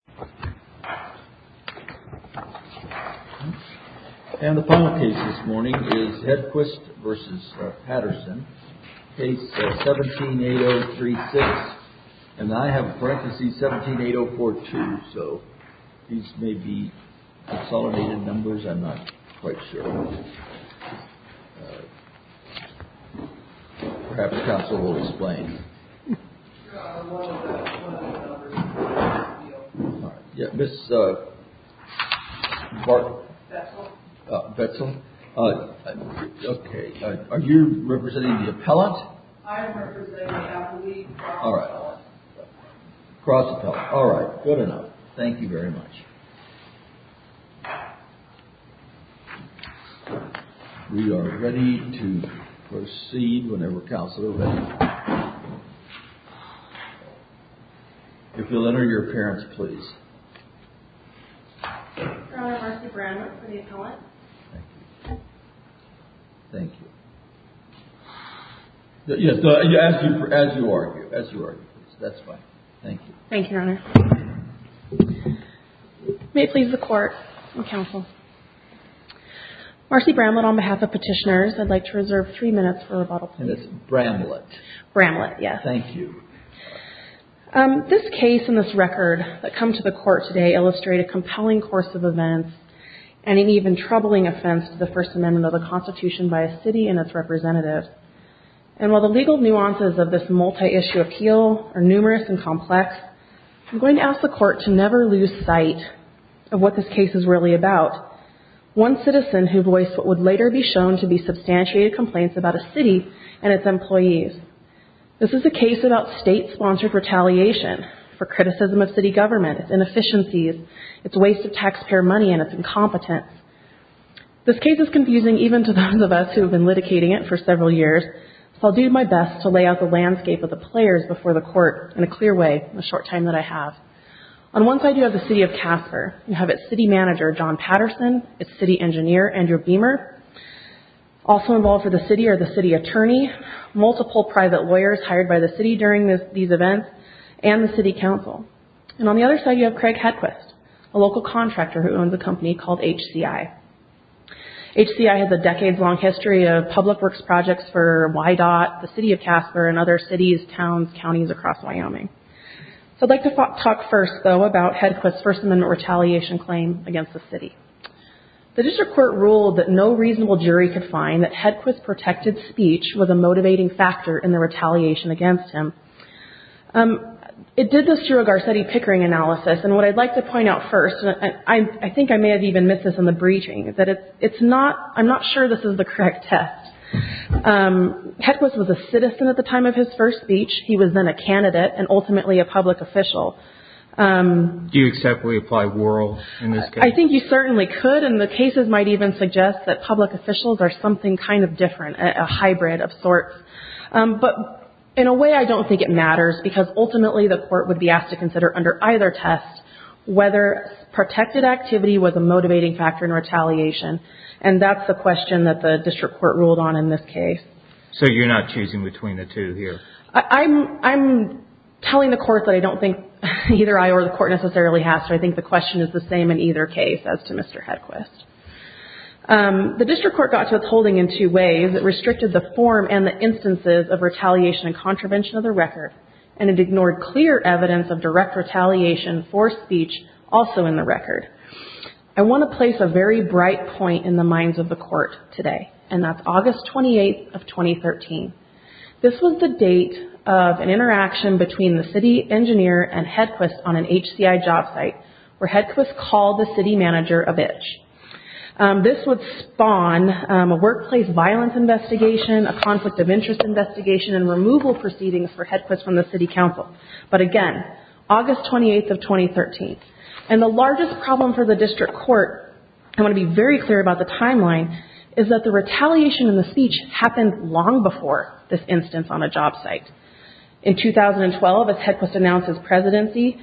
178036, and I have parenthesis 178042, so these may be consolidated numbers, I'm not quite sure. Perhaps the counsel will explain. Ms. Betzel, are you representing the appellant? I am representing the appellant. Cross appellant. All right. Good enough. Thank you very much. We are ready to proceed whenever counsel is ready. If you'll enter your appearance, please. Your Honor, Marcy Branworth for the appellant. Thank you. Thank you. Yes, as you are. As you are. That's fine. Thank you. Thank you, Your Honor. May it please the Court and counsel, Marcy Bramlett, on behalf of Petitioners, I'd like to reserve three minutes for rebuttal. And it's Bramlett. Bramlett, yes. Thank you. This case and this record that come to the Court today illustrate a compelling course of events and an even troubling offense to the First Amendment of the Constitution by a city and its representative. And while the legal nuances of this multi-issue appeal are numerous and complex, I'm going to ask the Court to never lose sight of what this case is really about. One citizen who voiced what would later be shown to be substantiated complaints about a city and its employees. This is a case about state-sponsored retaliation for criticism of city government, its inefficiencies, its waste of taxpayer money, and its incompetence. This case is confusing even to those of us who have been litigating it for several years, so I'll do my best to lay out the landscape of the players before the Court in a clear way in the short time that I have. On one side, you have the city of Casper. You have its city manager, John Patterson, its city engineer, Andrew Beamer. Also involved for the city are the city attorney, multiple private lawyers hired by the city during these events, and the city council. And on the other side, you have Craig Hedquist, a local contractor who owns a company called HCI. HCI has a decades-long history of public works projects for YDOT, the city of Casper, and other cities, towns, counties across Wyoming. I'd like to talk first, though, about Hedquist's First Amendment retaliation claim against the city. The district court ruled that no reasonable jury could find that Hedquist's protected speech was a motivating factor in the retaliation against him. It did this through a Garcetti-Pickering analysis, and what I'd like to point out first, and I think I may have even missed this in the briefing, is that it's not, I'm not sure this is the correct test. Hedquist was a citizen at the time of his first speech. He was then a candidate, and ultimately a public official. Do you accept we apply Worrell in this case? I think you certainly could, and the cases might even suggest that public officials are something kind of different, a hybrid of sorts. But in a way, I don't think it matters, because ultimately the court would be asked to consider under either test whether protected activity was a motivating factor in retaliation, and that's the question that the district court ruled on in this case. So you're not choosing between the two here? I'm telling the court that I don't think either I or the court necessarily has to. I think the question is the same in either case as to Mr. Hedquist. The district court got to its holding in two ways. It restricted the form and the instances of retaliation and contravention of the record, and it ignored clear evidence of direct retaliation for speech also in the record. I want to place a very bright point in the minds of the court today, and that's August 28th of 2013. This was the date of an interaction between the city engineer and Hedquist on an HCI job site, where Hedquist called the city manager a bitch. This would spawn a workplace violence investigation, a conflict of interest investigation, and removal proceedings for Hedquist from the city council. But again, August 28th of 2013. And the largest problem for the district court, I want to be very clear about the timeline, is that the retaliation in the speech happened long before this instance on a job site. In 2012, as Hedquist announces presidency,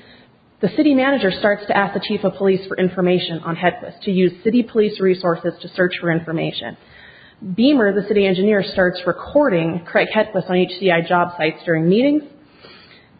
the city manager starts to ask the chief of police for information on Hedquist, to use city police resources to search for information. Beamer, the city engineer, starts recording Craig Hedquist on HCI job sites during meetings.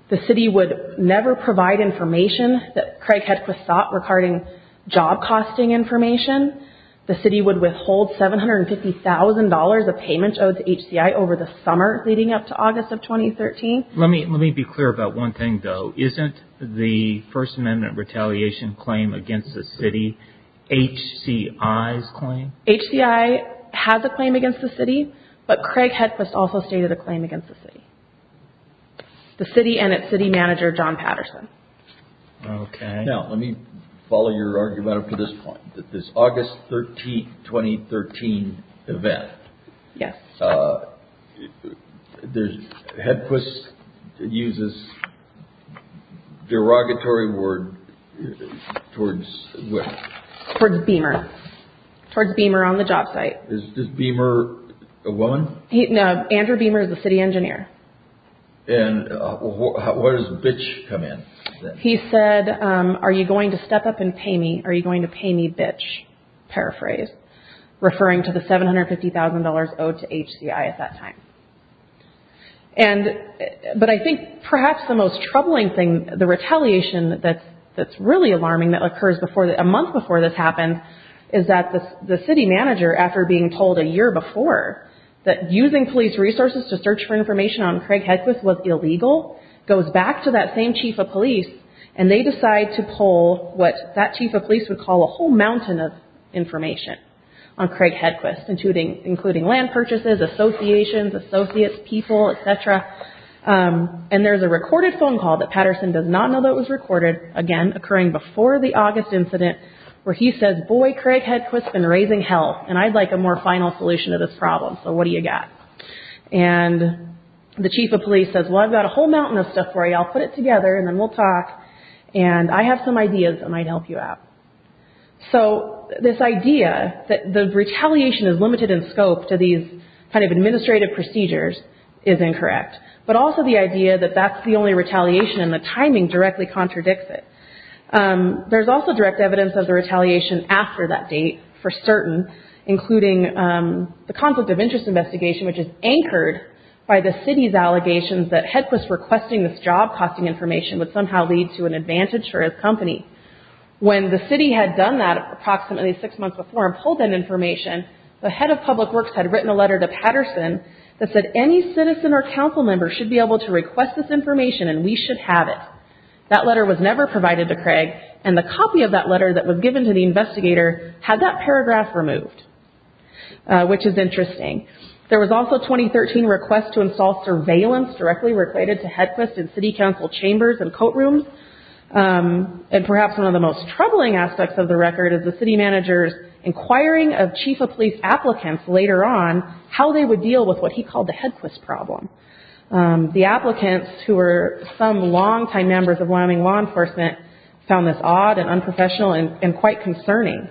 The city would never provide information that Craig Hedquist sought regarding job costing information. The city would withhold $750,000 of payment owed to HCI over the summer leading up to August of 2013. Let me be clear about one thing, though. Isn't the First Amendment retaliation claim against the city HCI's claim? HCI has a claim against the city, but Craig Hedquist also stated a claim against the city. The city and its city manager, John Patterson. Okay. Now, let me follow your argument up to this point. This August 13th, 2013 event, Hedquist uses derogatory word towards where? Towards Beamer. Towards Beamer on the job site. Is Beamer a woman? No, Andrew Beamer is the city engineer. And what does bitch come in? He said, are you going to step up and pay me? Are you going to pay me, bitch? Paraphrase. Referring to the $750,000 owed to HCI at that time. And, but I think perhaps the most troubling thing, the retaliation that's really alarming that occurs a month before this happened is that the city manager, after being told a year before that using police resources to search for information on Craig Hedquist was illegal, goes back to that same chief of police and they decide to pull what that chief of police would call a whole mountain of information on Craig Hedquist, including land purchases, associations, associates, people, etc. And there's a recorded phone call that Patterson does not know that was recorded, again, occurring before the August incident where he says, boy, Craig Hedquist has been raising hell and I'd like a more final solution to this problem, so what do you got? And the chief of police says, well, I've got a whole mountain of stuff for you, I'll put it together and then we'll talk and I have some ideas that might help you out. So this idea that the retaliation is limited in scope to these kind of administrative procedures is incorrect. But also the idea that that's the only retaliation and the timing directly contradicts it. There's also direct evidence of the retaliation after that date for certain, including the conflict of interest investigation which is anchored by the city's allegations that Hedquist requesting this job costing information would somehow lead to an advantage for his company. When the city had done that approximately six months before and pulled that information, the head of public works had written a letter to Patterson that said any citizen or council member should be able to request this information and we should have it. That letter was never provided to Craig and the copy of that letter that was given to the investigator had that paragraph removed, which is interesting. There was also a 2013 request to install surveillance directly related to Hedquist in city council chambers and coat rooms and perhaps one of the most troubling aspects of the record is the city manager's inquiring of chief of police applicants later on how they would deal with what he called the Hedquist problem. The applicants who were some long-time members of Wyoming law enforcement found this odd and unprofessional and quite concerning.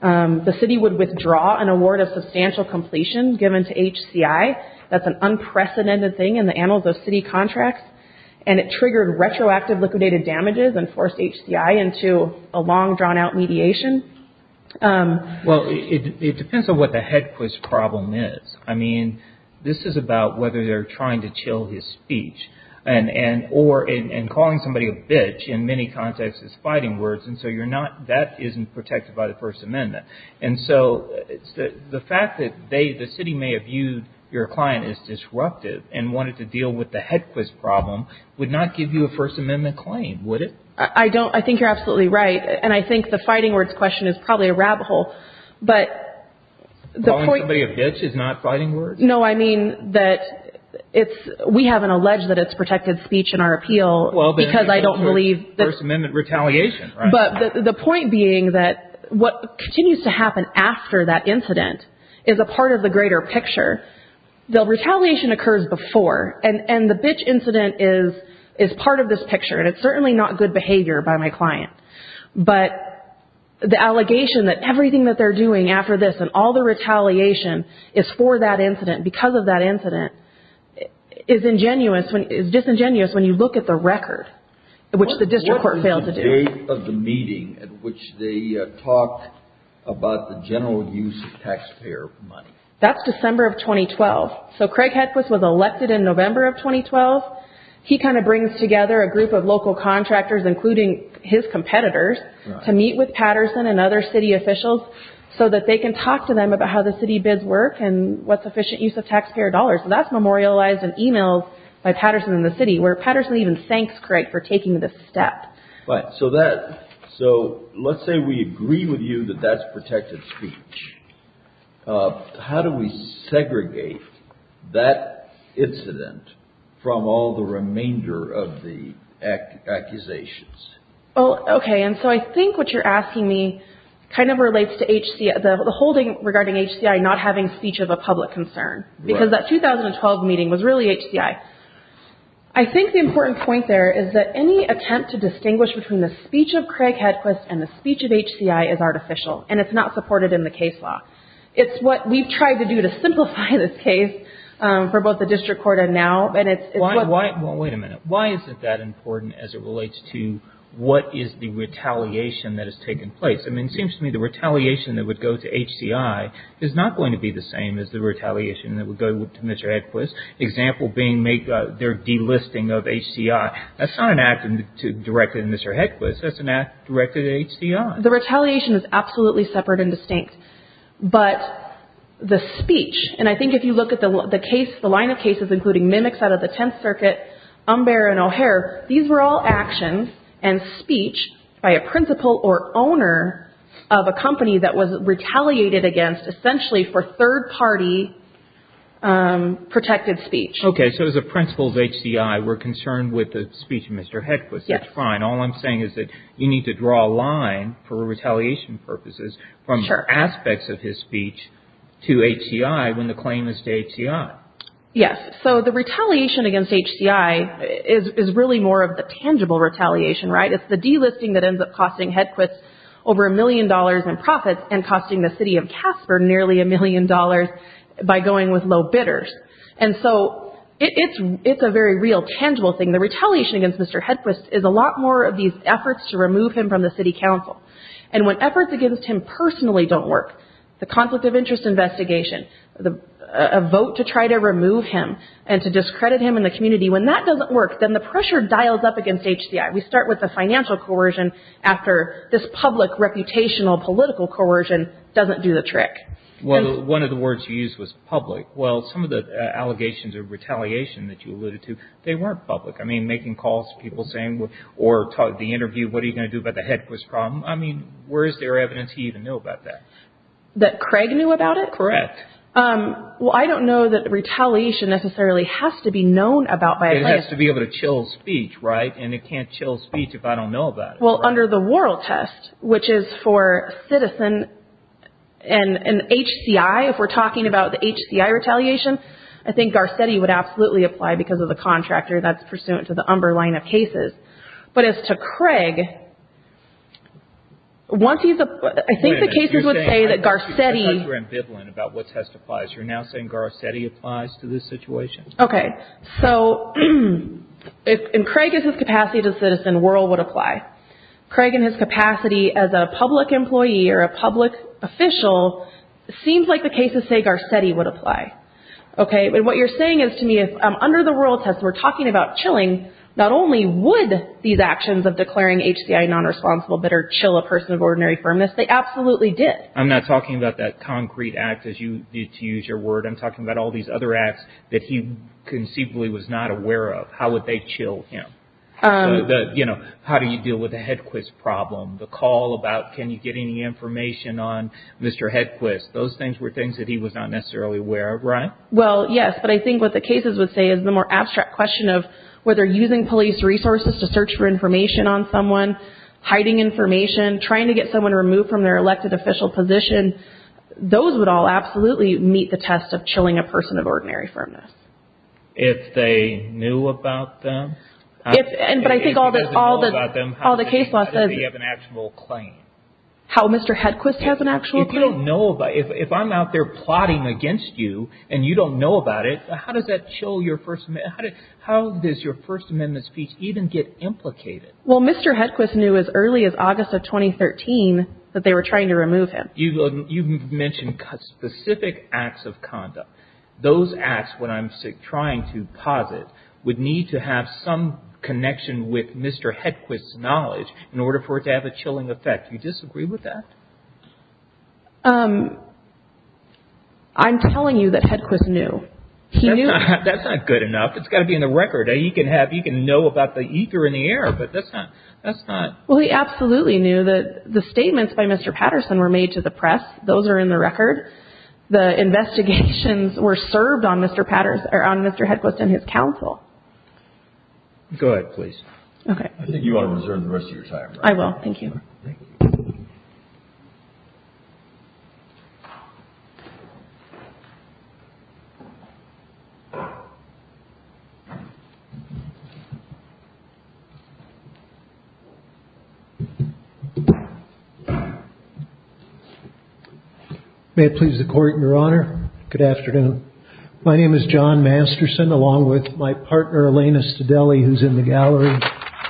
The city would withdraw an award of substantial completion given to HCI, that's an unprecedented thing in the annals of city contracts, and it triggered retroactive liquidated damages and forced HCI into a long, drawn-out mediation. Well, it depends on what the Hedquist problem is. I mean, this is about whether they're trying to chill his speech and calling somebody a bitch in many contexts is fighting words and so that isn't protected by the First Amendment. The fact that the city may have viewed your client as disruptive and wanted to deal with the Hedquist problem would not give you a First Amendment claim, would it? I don't, I think you're absolutely right, and I think the fighting words question is probably a rabbit hole, but the point... Calling somebody a bitch is not fighting words? No, I mean that it's, we haven't alleged that it's protected speech in our appeal because I don't believe... Well, but it's a First Amendment retaliation, right? But the point being that what continues to happen after that incident is a part of the bitch incident is part of this picture and it's certainly not good behavior by my client, but the allegation that everything that they're doing after this and all the retaliation is for that incident, because of that incident, is disingenuous when you look at the record, which the district court failed to do. What is the date of the meeting at which they talked about the general use of taxpayer money? That's December of 2012. So Craig Hedquist was elected in November of 2012. He kind of brings together a group of local contractors, including his competitors, to meet with Patterson and other city officials so that they can talk to them about how the city bids work and what's efficient use of taxpayer dollars, and that's memorialized in emails by Patterson and the city, where Patterson even thanks Craig for taking this step. Right, so that, so let's say we agree with you that that's protected speech. How do we segregate that incident from all the remainder of the accusations? Well, okay, and so I think what you're asking me kind of relates to the holding regarding HCI not having speech of a public concern, because that 2012 meeting was really HCI. I think the important point there is that any attempt to distinguish between the speech of Craig Hedquist and the speech of HCI is artificial, and it's not supported in the case law. It's what we've tried to do to simplify this case for both the district court and now, and it's what's... Well, wait a minute. Why is it that important as it relates to what is the retaliation that has taken place? I mean, it seems to me the retaliation that would go to HCI is not going to be the same as the retaliation that would go to Mr. Hedquist, example being their delisting of HCI. That's not an act directed at Mr. Hedquist. That's an act directed at HCI. The retaliation is absolutely separate and distinct, but the speech, and I think if you look at the line of cases including Mimics out of the Tenth Circuit, Umber and O'Hare, these were all actions and speech by a principal or owner of a company that was retaliated against essentially for third-party protected speech. Okay, so as a principal of HCI, we're concerned with the speech of Mr. Hedquist. Yes. That's fine. All I'm saying is that you need to draw a line for retaliation purposes from aspects of his speech to HCI when the claim is to HCI. Yes. So the retaliation against HCI is really more of the tangible retaliation, right? It's the delisting that ends up costing Hedquist over a million dollars in profits and costing the city of Casper nearly a million dollars by going with low bidders. And so it's a very real, tangible thing. The retaliation against Mr. Hedquist is a lot more of these efforts to remove him from the city council. And when efforts against him personally don't work, the conflict of interest investigation, a vote to try to remove him and to discredit him in the community, when that doesn't work, then the pressure dials up against HCI. We start with the financial coercion after this public, reputational, political coercion doesn't do the trick. One of the words you used was public. Public. Well, some of the allegations of retaliation that you alluded to, they weren't public. I mean, making calls to people saying, or the interview, what are you going to do about the Hedquist problem? I mean, where is there evidence he even knew about that? That Craig knew about it? Correct. Well, I don't know that retaliation necessarily has to be known about by a client. It has to be able to chill speech, right? And it can't chill speech if I don't know about it. Well, under the Worrell test, which is for citizen and HCI, if we're talking about the HCI retaliation, I think Garcetti would absolutely apply because of the contractor that's pursuant to the Umber line of cases. But as to Craig, once he's a – I think the cases would say that Garcetti – Wait a minute. You're saying – I thought you were ambivalent about what test applies. You're now saying Garcetti applies to this situation? Okay. So, if Craig is his capacity as a citizen, Worrell would apply. Craig in his capacity as a public employee or a public official, it seems like the cases say Garcetti would apply. Okay. And what you're saying is to me, if under the Worrell test, we're talking about chilling, not only would these actions of declaring HCI nonresponsible better chill a person of ordinary firmness, they absolutely did. I'm not talking about that concrete act as you did to use your word. I'm talking about all these other acts that he conceivably was not aware of. How would they chill him? You know, how do you deal with the Hedquist problem, the call about can you get any information on Mr. Hedquist? Those things were things that he was not necessarily aware of, right? Well, yes. But I think what the cases would say is the more abstract question of whether using police resources to search for information on someone, hiding information, trying to get someone removed from their elected official position, those would all absolutely meet the test of chilling a person of ordinary firmness. If they knew about them? If he doesn't know about them, how does he have an actual claim? How Mr. Hedquist has an actual claim? If you don't know about it, if I'm out there plotting against you and you don't know about it, how does that chill your First Amendment, how does your First Amendment speech even get implicated? Well, Mr. Hedquist knew as early as August of 2013 that they were trying to remove him. You mentioned specific acts of conduct. Those acts, what I'm trying to posit, would need to have some connection with Mr. Hedquist's knowledge in order for it to have a chilling effect. Do you disagree with that? I'm telling you that Hedquist knew. He knew. That's not good enough. It's got to be in the record. He can have, he can know about the ether in the air, but that's not, that's not. Well, he absolutely knew that the statements by Mr. Patterson were made to the press. Those are in the record. The investigations were served on Mr. Patterson, or on Mr. Hedquist and his counsel. Go ahead, please. Okay. I think you ought to reserve the rest of your time. I will. Thank you. Thank you. May it please the Court and Your Honor, good afternoon. My name is John Masterson, along with my partner, Elena Stedelli, who's in the gallery.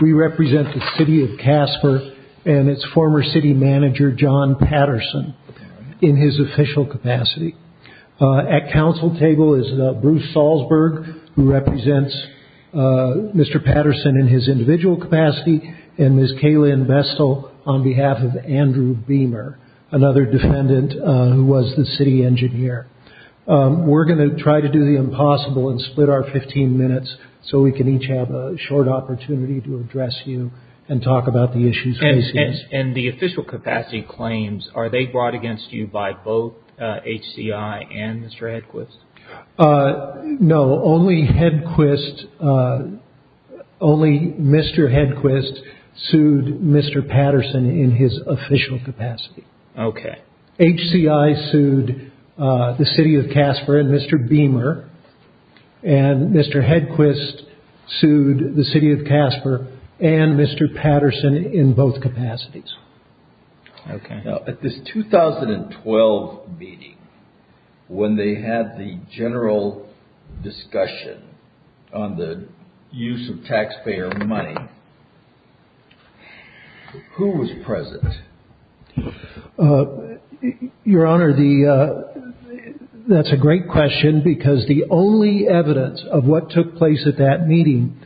We represent the city of Casper and its former city manager, John Patterson, in his official capacity. At counsel table is Bruce Salzberg, who represents Mr. Patterson in his individual capacity, and Ms. Kaylynn Bestel on behalf of Andrew Beamer, another defendant who was the city engineer. We're going to try to do the impossible and split our 15 minutes so we can each have a short opportunity to address you and talk about the issues raised here. And the official capacity claims, are they brought against you by both HCI and Mr. Hedquist? No. Only Hedquist, only Mr. Hedquist sued Mr. Patterson in his official capacity. Okay. HCI sued the city of Casper and Mr. Beamer, and Mr. Hedquist sued the city of Casper and Mr. Patterson in both capacities. Okay. Now, at this 2012 meeting, when they had the general discussion on the use of taxpayer money, who was present? Your Honor, that's a great question because the only evidence of what took place at that meeting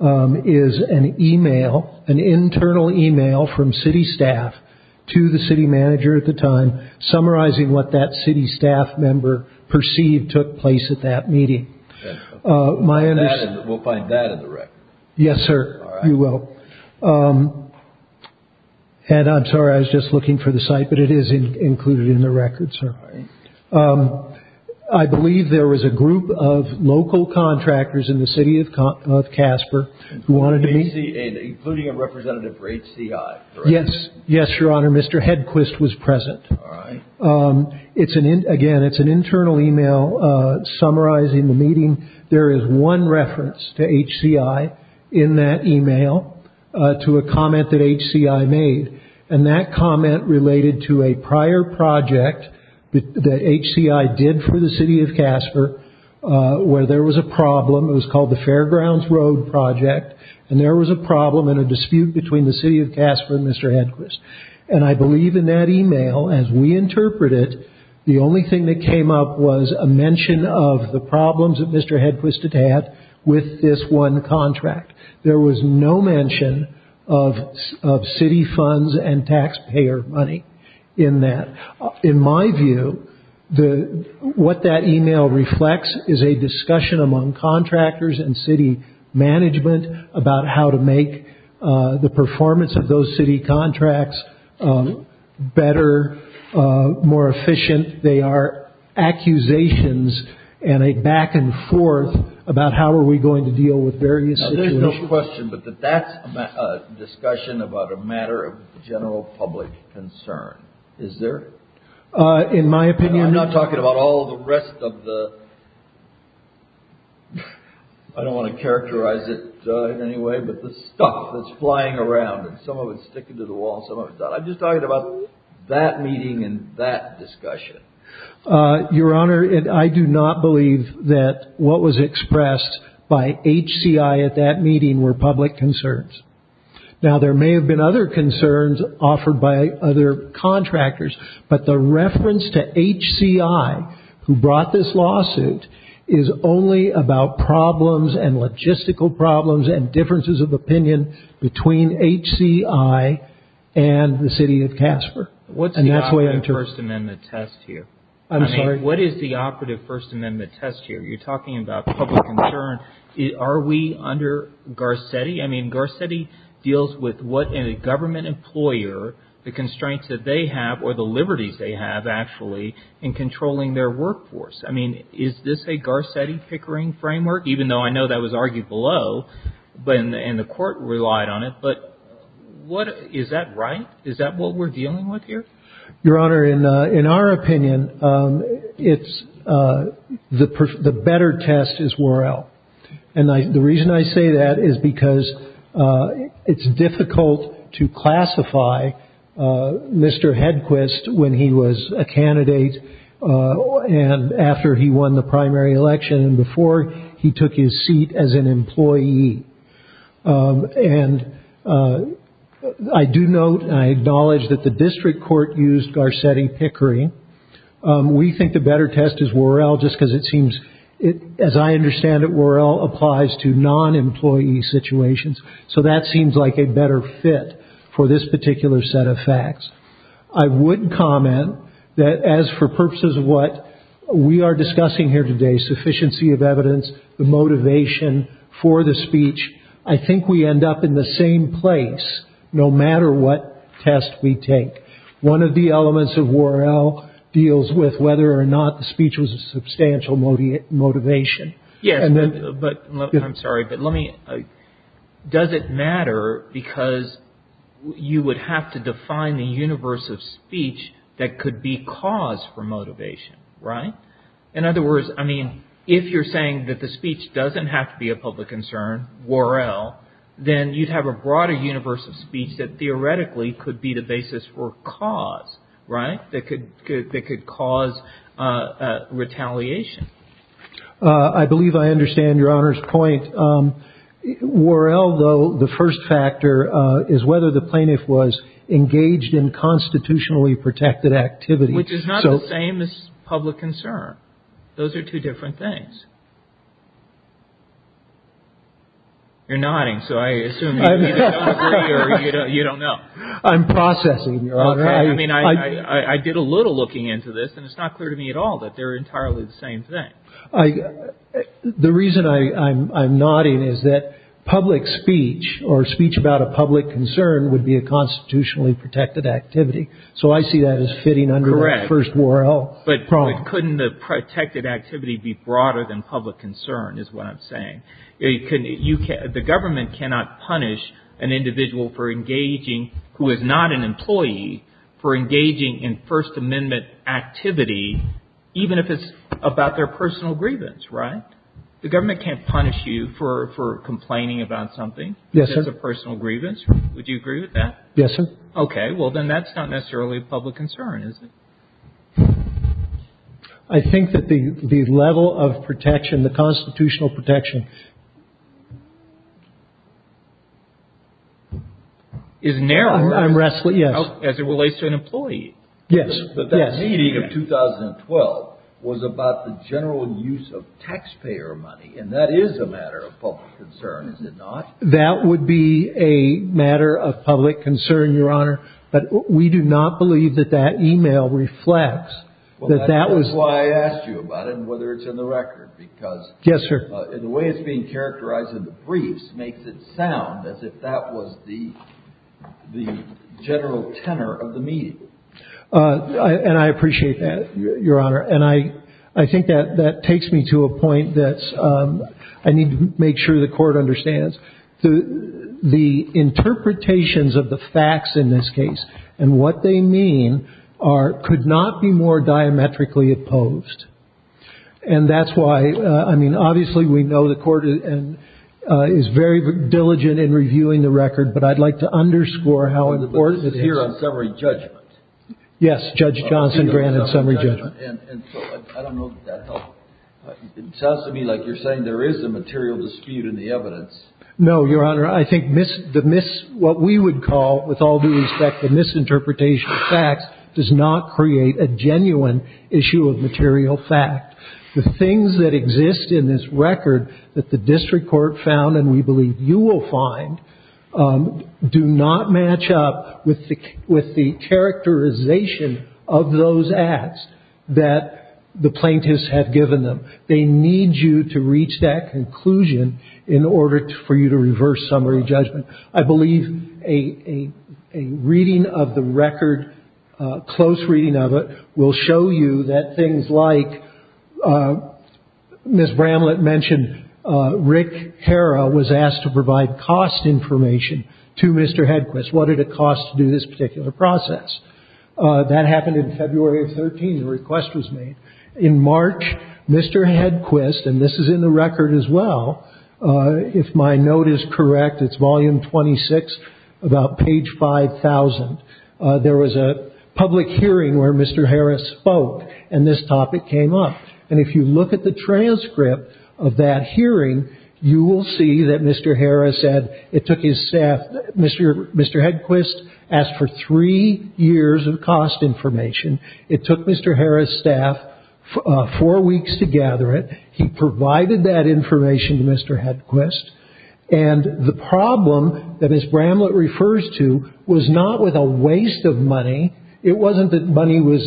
is an email, an internal email from city staff to the city manager at the time summarizing what that city staff member perceived took place at that meeting. My understanding- We'll find that in the record. Yes, sir. All right. You will. And I'm sorry, I was just looking for the site, but it is included in the record, sir. I believe there was a group of local contractors in the city of Casper who wanted to meet- Including a representative for HCI, correct? Yes. Yes, Your Honor. Mr. Hedquist was present. All right. Again, it's an internal email summarizing the meeting. There is one reference to HCI in that email to a comment that HCI made. And that comment related to a prior project that HCI did for the city of Casper where there was a problem. It was called the Fairgrounds Road Project. And there was a problem and a dispute between the city of Casper and Mr. Hedquist. And I believe in that email, as we interpret it, the only thing that came up was a mention of the problems that Mr. Hedquist had with this one contract. There was no mention of city funds and taxpayer money in that. In my view, what that email reflects is a discussion among contractors and city management about how to make the performance of those city contracts better, more efficient. They are accusations and a back and forth about how are we going to deal with various situations. Now, there's no question, but that that's a discussion about a matter of general public concern, is there? In my opinion, no. And I'm not talking about all the rest of the... I don't want to characterize it in any way, but the stuff that's flying around, and some of it's sticking to the wall, some of it's not. I'm just talking about that meeting and that discussion. Your Honor, I do not believe that what was expressed by HCI at that meeting were public concerns. Now, there may have been other concerns offered by other contractors, but the reference to HCI, who brought this lawsuit, is only about problems and logistical problems and differences of opinion between HCI and the city of Casper. And that's the way I interpret it. What's the operative First Amendment test here? I'm sorry? I mean, what is the operative First Amendment test here? You're talking about public concern. Are we under Garcetti? I mean, Garcetti deals with what a government employer, the constraints that they have or the liberties they have, actually, in controlling their workforce. I mean, is this a Garcetti-Pickering framework? Even though I know that was argued below and the court relied on it, but is that right? Is that what we're dealing with here? Your Honor, in our opinion, the better test is Worrell. And the reason I say that is because it's difficult to classify Mr. Hedquist when he was a candidate and after he won the primary election and before he took his seat as an employee. And I do note and I acknowledge that the district court used Garcetti-Pickering. We think the better test is Worrell just because it seems, as I understand it, Worrell applies to non-employee situations. So that seems like a better fit for this particular set of facts. I would comment that as for purposes of what we are discussing here today, sufficiency of evidence, the motivation for the speech, I think we end up in the same place no matter what test we take. One of the elements of Worrell deals with whether or not the speech was a substantial motivation. Yes, but I'm sorry, but let me, does it matter because you would have to define the universe of speech that could be cause for motivation, right? In other words, I mean, if you're saying that the speech doesn't have to be a public concern, Worrell, then you'd have a broader universe of speech that theoretically could be the basis for cause, right? That could cause retaliation. I believe I understand Your Honor's point. Worrell, though, the first factor is whether the plaintiff was engaged in constitutionally protected activity. Which is not the same as public concern. Those are two different things. You're nodding, so I assume you don't know. I'm processing. I mean, I did a little looking into this and it's not clear to me at all that they're entirely the same thing. The reason I'm nodding is that public speech or speech about a public concern would be a constitutionally protected activity. So I see that as fitting under the first Worrell problem. But couldn't the protected activity be broader than public concern is what I'm saying. The government cannot punish an individual for engaging, who is not an employee, for about their personal grievance, right? The government can't punish you for complaining about something that's a personal grievance. Would you agree with that? Yes, sir. OK, well, then that's not necessarily a public concern, is it? I think that the level of protection, the constitutional protection. Is narrowed as it relates to an employee. Yes, but that meeting of 2012 was about the general use of taxpayer money, and that is a matter of public concern, is it not? That would be a matter of public concern, Your Honor. But we do not believe that that email reflects that that was why I asked you about it and whether it's in the record, because the way it's being characterized in the briefs makes it sound as if that was the the general tenor of the meeting. And I appreciate that, Your Honor. And I I think that that takes me to a point that I need to make sure the court understands that the interpretations of the facts in this case and what they mean are could not be more diametrically opposed. And that's why I mean, obviously, we know the court is very diligent in reviewing the record, but I'd like to underscore how important it is here on summary judgment. Yes. Judge Johnson granted summary judgment. And I don't know that that helps. It sounds to me like you're saying there is a material dispute in the evidence. No, Your Honor. I think what we would call, with all due respect, the misinterpretation of facts does not create a genuine issue of material fact. The things that exist in this record that the district court found and we believe you will find do not match up with the with the characterization of those acts that the plaintiffs have given them. They need you to reach that conclusion in order for you to reverse summary judgment. I believe a reading of the record, a close reading of it, will show you that things like Ms. Bramlett mentioned, Rick Harrah was asked to provide cost information to Mr. Hedquist. What did it cost to do this particular process? That happened in February of 13. The request was made in March. Mr. Hedquist, and this is in the record as well, if my note is correct, it's volume 26, about page 5000. There was a public hearing where Mr. Harris spoke and this topic came up. And if you look at the transcript of that hearing, you will see that Mr. Harris said it took his staff. Mr. Mr. Hedquist asked for three years of cost information. It took Mr. Harris staff four weeks to gather it. He provided that information to Mr. Hedquist. And the problem that Ms. Bramlett refers to was not with a waste of money. It wasn't that money was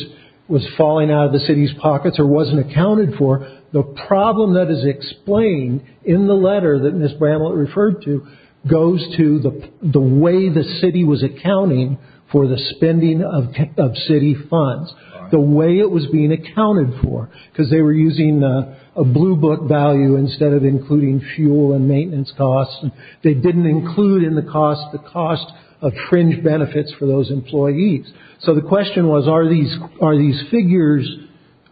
was falling out of the city's pockets or wasn't accounted for. The problem that is explained in the letter that Ms. Bramlett referred to goes to the way the city was accounting for the spending of city funds, the way it was being accounted for, because they were using a blue book value instead of including fuel and maintenance costs. And they didn't include in the cost the cost of fringe benefits for those employees. So the question was, are these are these figures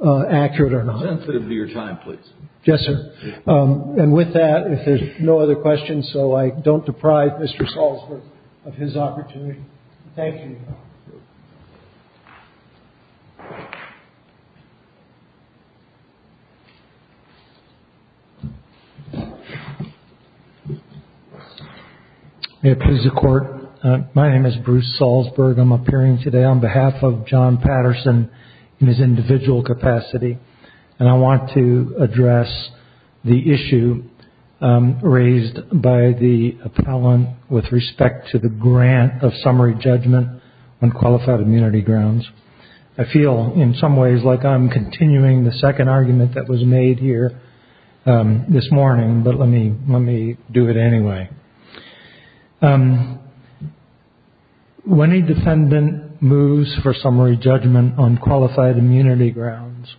accurate or not? Sensitive to your time, please. Yes, sir. And with that, if there's no other questions, so I don't deprive Mr. Salzberg of his opportunity. Thank you. May it please the court. My name is Bruce Salzberg. I'm appearing today on behalf of John Patterson in his individual capacity. And I want to address the issue raised by the appellant with respect to the grant of summary judgment on qualified immunity grounds. I feel in some ways like I'm continuing the second argument that was made here. This morning, but let me let me do it anyway. When a defendant moves for summary judgment on qualified immunity grounds.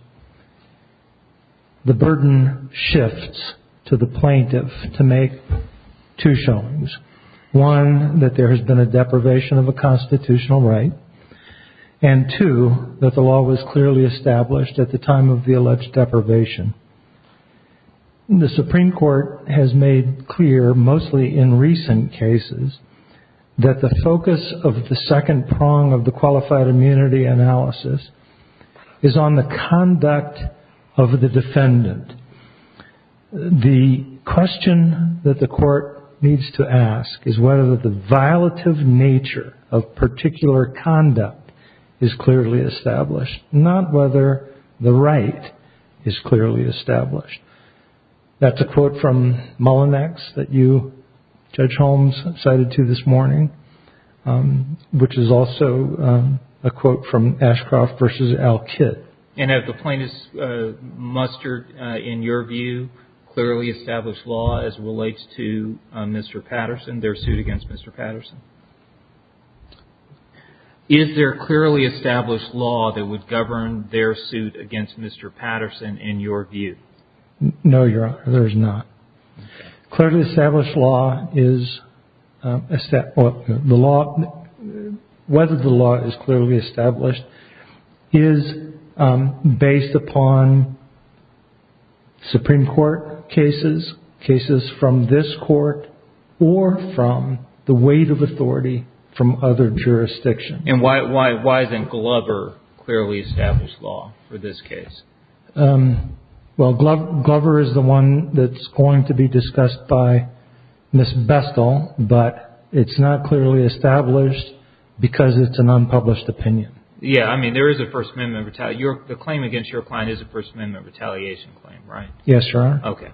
The burden shifts to the plaintiff to make two showings, one that there has been a deprivation of a constitutional right and two that the law was clearly established at the time of the alleged deprivation. And the Supreme Court has made clear, mostly in recent cases, that the focus of the second prong of the qualified immunity analysis is on the conduct of the defendant. The question that the court needs to ask is whether the violative nature of particular conduct is clearly established, not whether the right is clearly established. That's a quote from Mullinex that you, Judge Holmes, cited to this morning, which is also a quote from Ashcroft versus Al Kitt. And at the plaintiff's muster, in your view, clearly established law as relates to Mr. Patterson, their suit against Mr. Patterson. Is there clearly established law that would govern their suit against Mr. Patterson, in your view? No, Your Honor, there is not. Clearly established law is the law, whether the law is clearly established is based upon Supreme Court cases, cases from this court or from the weight of authority from other jurisdictions. And why then Glover clearly established law for this case? Well, Glover is the one that's going to be discussed by Ms. Bestel, but it's not clearly established because it's an unpublished opinion. Yeah, I mean, there is a First Amendment. The claim against your client is a First Amendment retaliation claim, right? Yes, Your Honor. OK.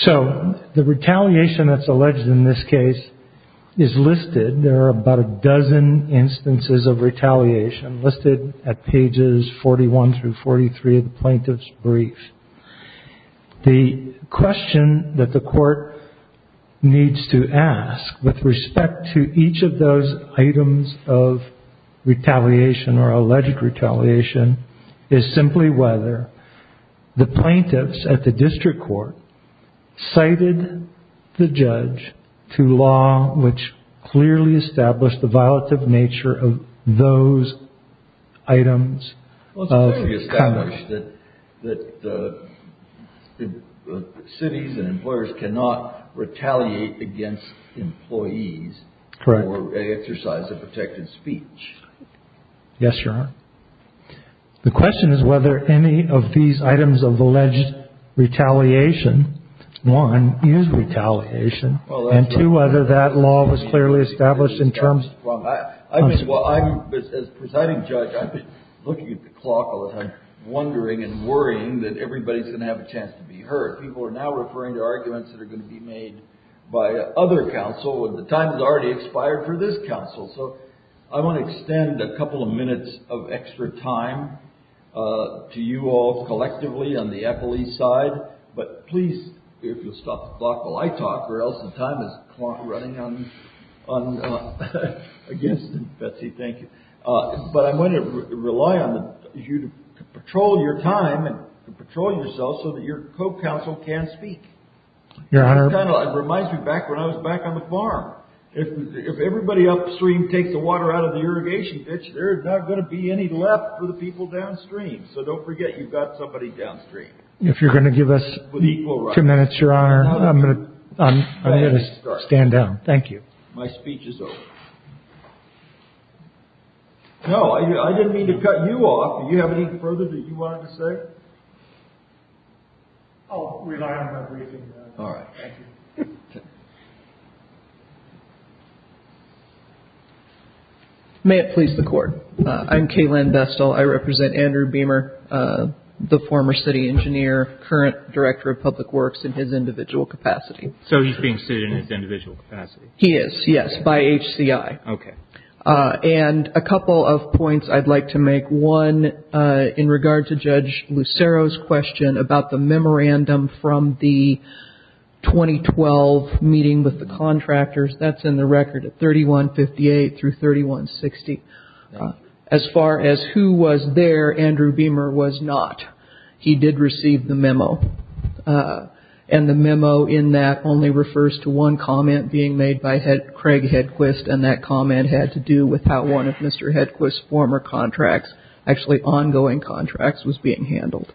So the retaliation that's alleged in this case is listed. There are about a dozen instances of retaliation listed at pages 41 through 43 of the plaintiff's brief. The question that the court needs to ask with respect to each of those items of retaliation or alleged retaliation is simply whether the plaintiffs at the district court cited the judge to law, which clearly established the violative nature of those items. Well, it's clearly established that cities and employers cannot retaliate against employees for a exercise of protected speech. Yes, Your Honor. The question is whether any of these items of alleged retaliation, one, is retaliation, and two, whether that law was clearly established in terms of... Well, as presiding judge, I've been looking at the clock a lot, wondering and worrying that everybody's going to have a chance to be heard. People are now referring to arguments that are going to be made by other counsel and the time has already expired for this counsel. So I want to extend a couple of minutes of extra time to you all collectively on the Apple East side. But please, if you'll stop the clock while I talk or else the time is running on against Betsy. Thank you. But I'm going to rely on you to patrol your time and patrol yourself so that your co-counsel can speak. Your Honor. It kind of reminds me back when I was back on the farm. If everybody upstream takes the water out of the irrigation ditch, there's not going to be any left for the people downstream. So don't forget you've got somebody downstream. If you're going to give us two minutes, Your Honor, I'm going to stand down. Thank you. My speech is over. No, I didn't mean to cut you off. Do you have any further that you wanted to say? I'll rely on my briefing. All right. May it please the Court. I'm Kay Lynn Bestel. I represent Andrew Beamer, the former city engineer, current director of public works in his individual capacity. So he's being sued in his individual capacity. He is, yes, by HCI. Okay. And a couple of points I'd like to make. One, in regard to Judge Lucero's question about the memorandum from the 2012 meeting with the contractors, that's in the record at 3158 through 3160. As far as who was there, Andrew Beamer was not. He did receive the memo. And the memo in that only refers to one comment being made by Craig Hedquist. And that comment had to do with how one of Mr. Hedquist's former contracts, actually ongoing contracts, was being handled.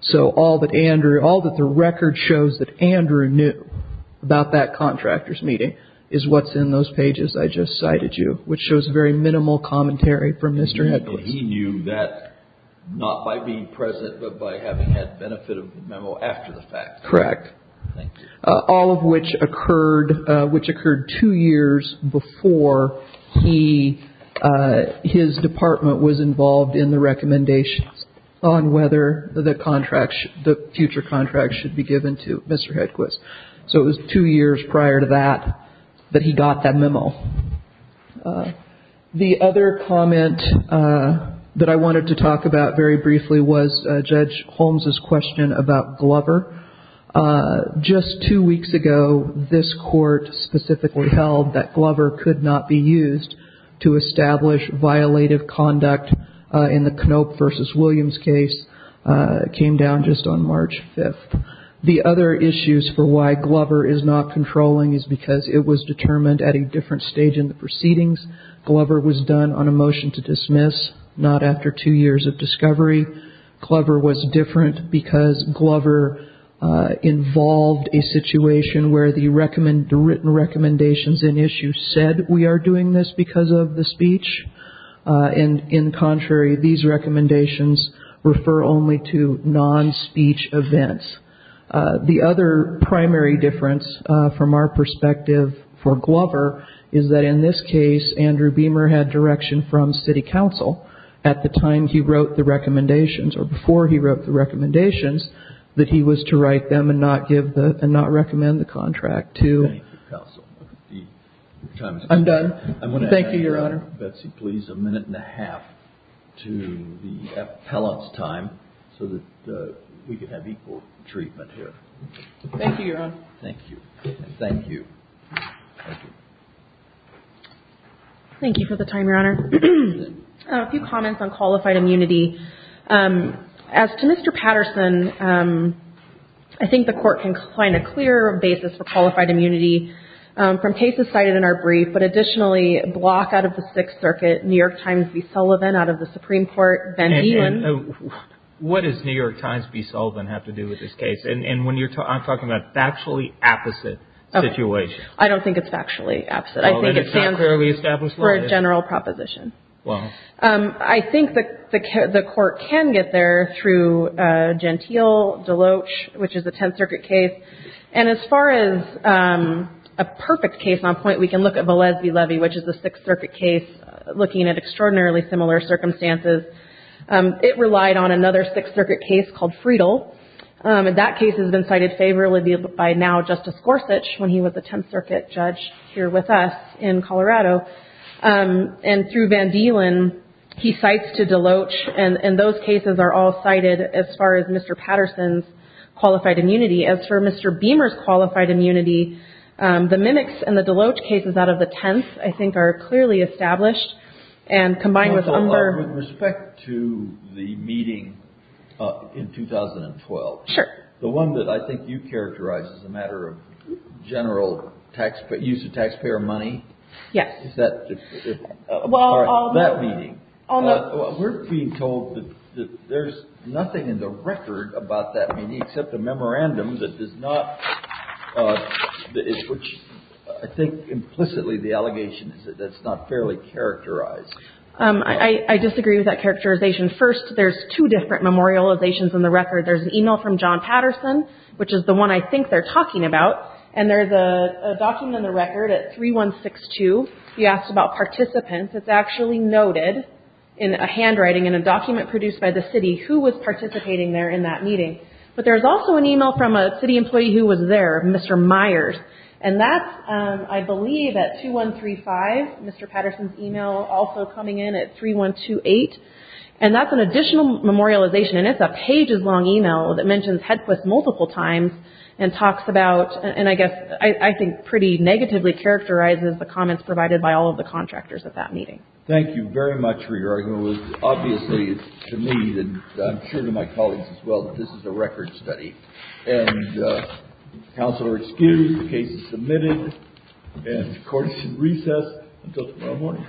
So all that Andrew, all that the record shows that Andrew knew about that contractor's meeting is what's in those pages I just cited you, which shows a very minimal commentary from Mr. Hedquist. He knew that not by being present, but by having had benefit of the memo after the fact. Correct. All of which occurred, which occurred two years before he, his department was involved in the recommendations on whether the contracts, the future contracts should be given to Mr. Hedquist. So it was two years prior to that, that he got that memo. The other comment that I wanted to talk about very briefly was Judge Holmes's question about Glover. Just two weeks ago, this court specifically held that Glover could not be used to in the Knope v. Williams case, came down just on March 5th. The other issues for why Glover is not controlling is because it was determined at a different stage in the proceedings. Glover was done on a motion to dismiss, not after two years of discovery. Glover was different because Glover involved a situation where the written recommendations in issue said we are doing this because of the speech. And in contrary, these recommendations refer only to non-speech events. The other primary difference from our perspective for Glover is that in this case, Andrew Beamer had direction from city council at the time he wrote the recommendations, or before he wrote the recommendations, that he was to write them and not give the, and not recommend the contract to the council. I want to thank you, Your Honor. Please, a minute and a half to the appellant's time so that we can have equal treatment here. Thank you, Your Honor. Thank you. Thank you. Thank you for the time, Your Honor. A few comments on qualified immunity. As to Mr. Patterson, I think the court can find a clearer basis for qualified immunity from cases cited in our brief, but additionally, a block out of the Sixth Circuit, New York Times v. Sullivan out of the Supreme Court. And what does New York Times v. Sullivan have to do with this case? And when you're talking, I'm talking about factually opposite situation. I don't think it's factually opposite. I think it stands for a general proposition. Well, I think that the court can get there through Gentile Deloach, which is a Tenth Circuit case. And as far as a perfect case on point, we can look at Valesky-Levy, which is the Sixth Circuit case, looking at extraordinarily similar circumstances. It relied on another Sixth Circuit case called Friedel. And that case has been cited favorably by now Justice Gorsuch when he was the Tenth Circuit judge here with us in Colorado. And through Van Dielen, he cites to Deloach and those cases are all cited as far as Mr. Patterson's qualified immunity. As for Mr. Beamer's qualified immunity, the Mimics and the Deloach cases out of the Tenth, I think, are clearly established and combined with other... With respect to the meeting in 2012, the one that I think you characterized as a matter of general use of taxpayer money, that meeting, we're being told that there's nothing in the record about that meeting except a memorandum that does not, which I think implicitly the allegation is that that's not fairly characterized. I disagree with that characterization. First, there's two different memorializations in the record. There's an email from John Patterson, which is the one I think they're talking about, and there's a document in the record at 3162. He asked about participants. It's actually noted in a handwriting in a document produced by the city who was participating there in that meeting. But there's also an email from a city employee who was there, Mr. Myers, and that's, I believe, at 2135, Mr. Patterson's email also coming in at 3128. And that's an additional memorialization and it's a pages long email that mentions Headquist multiple times and talks about, and I guess I think pretty negatively characterizes the comments provided by all of the contractors at that meeting. Thank you very much for your argument. It was obviously, to me, and I'm sure to my colleagues as well, that this is a record study. And counsel are excused, the case is submitted, and the court should recess until tomorrow morning.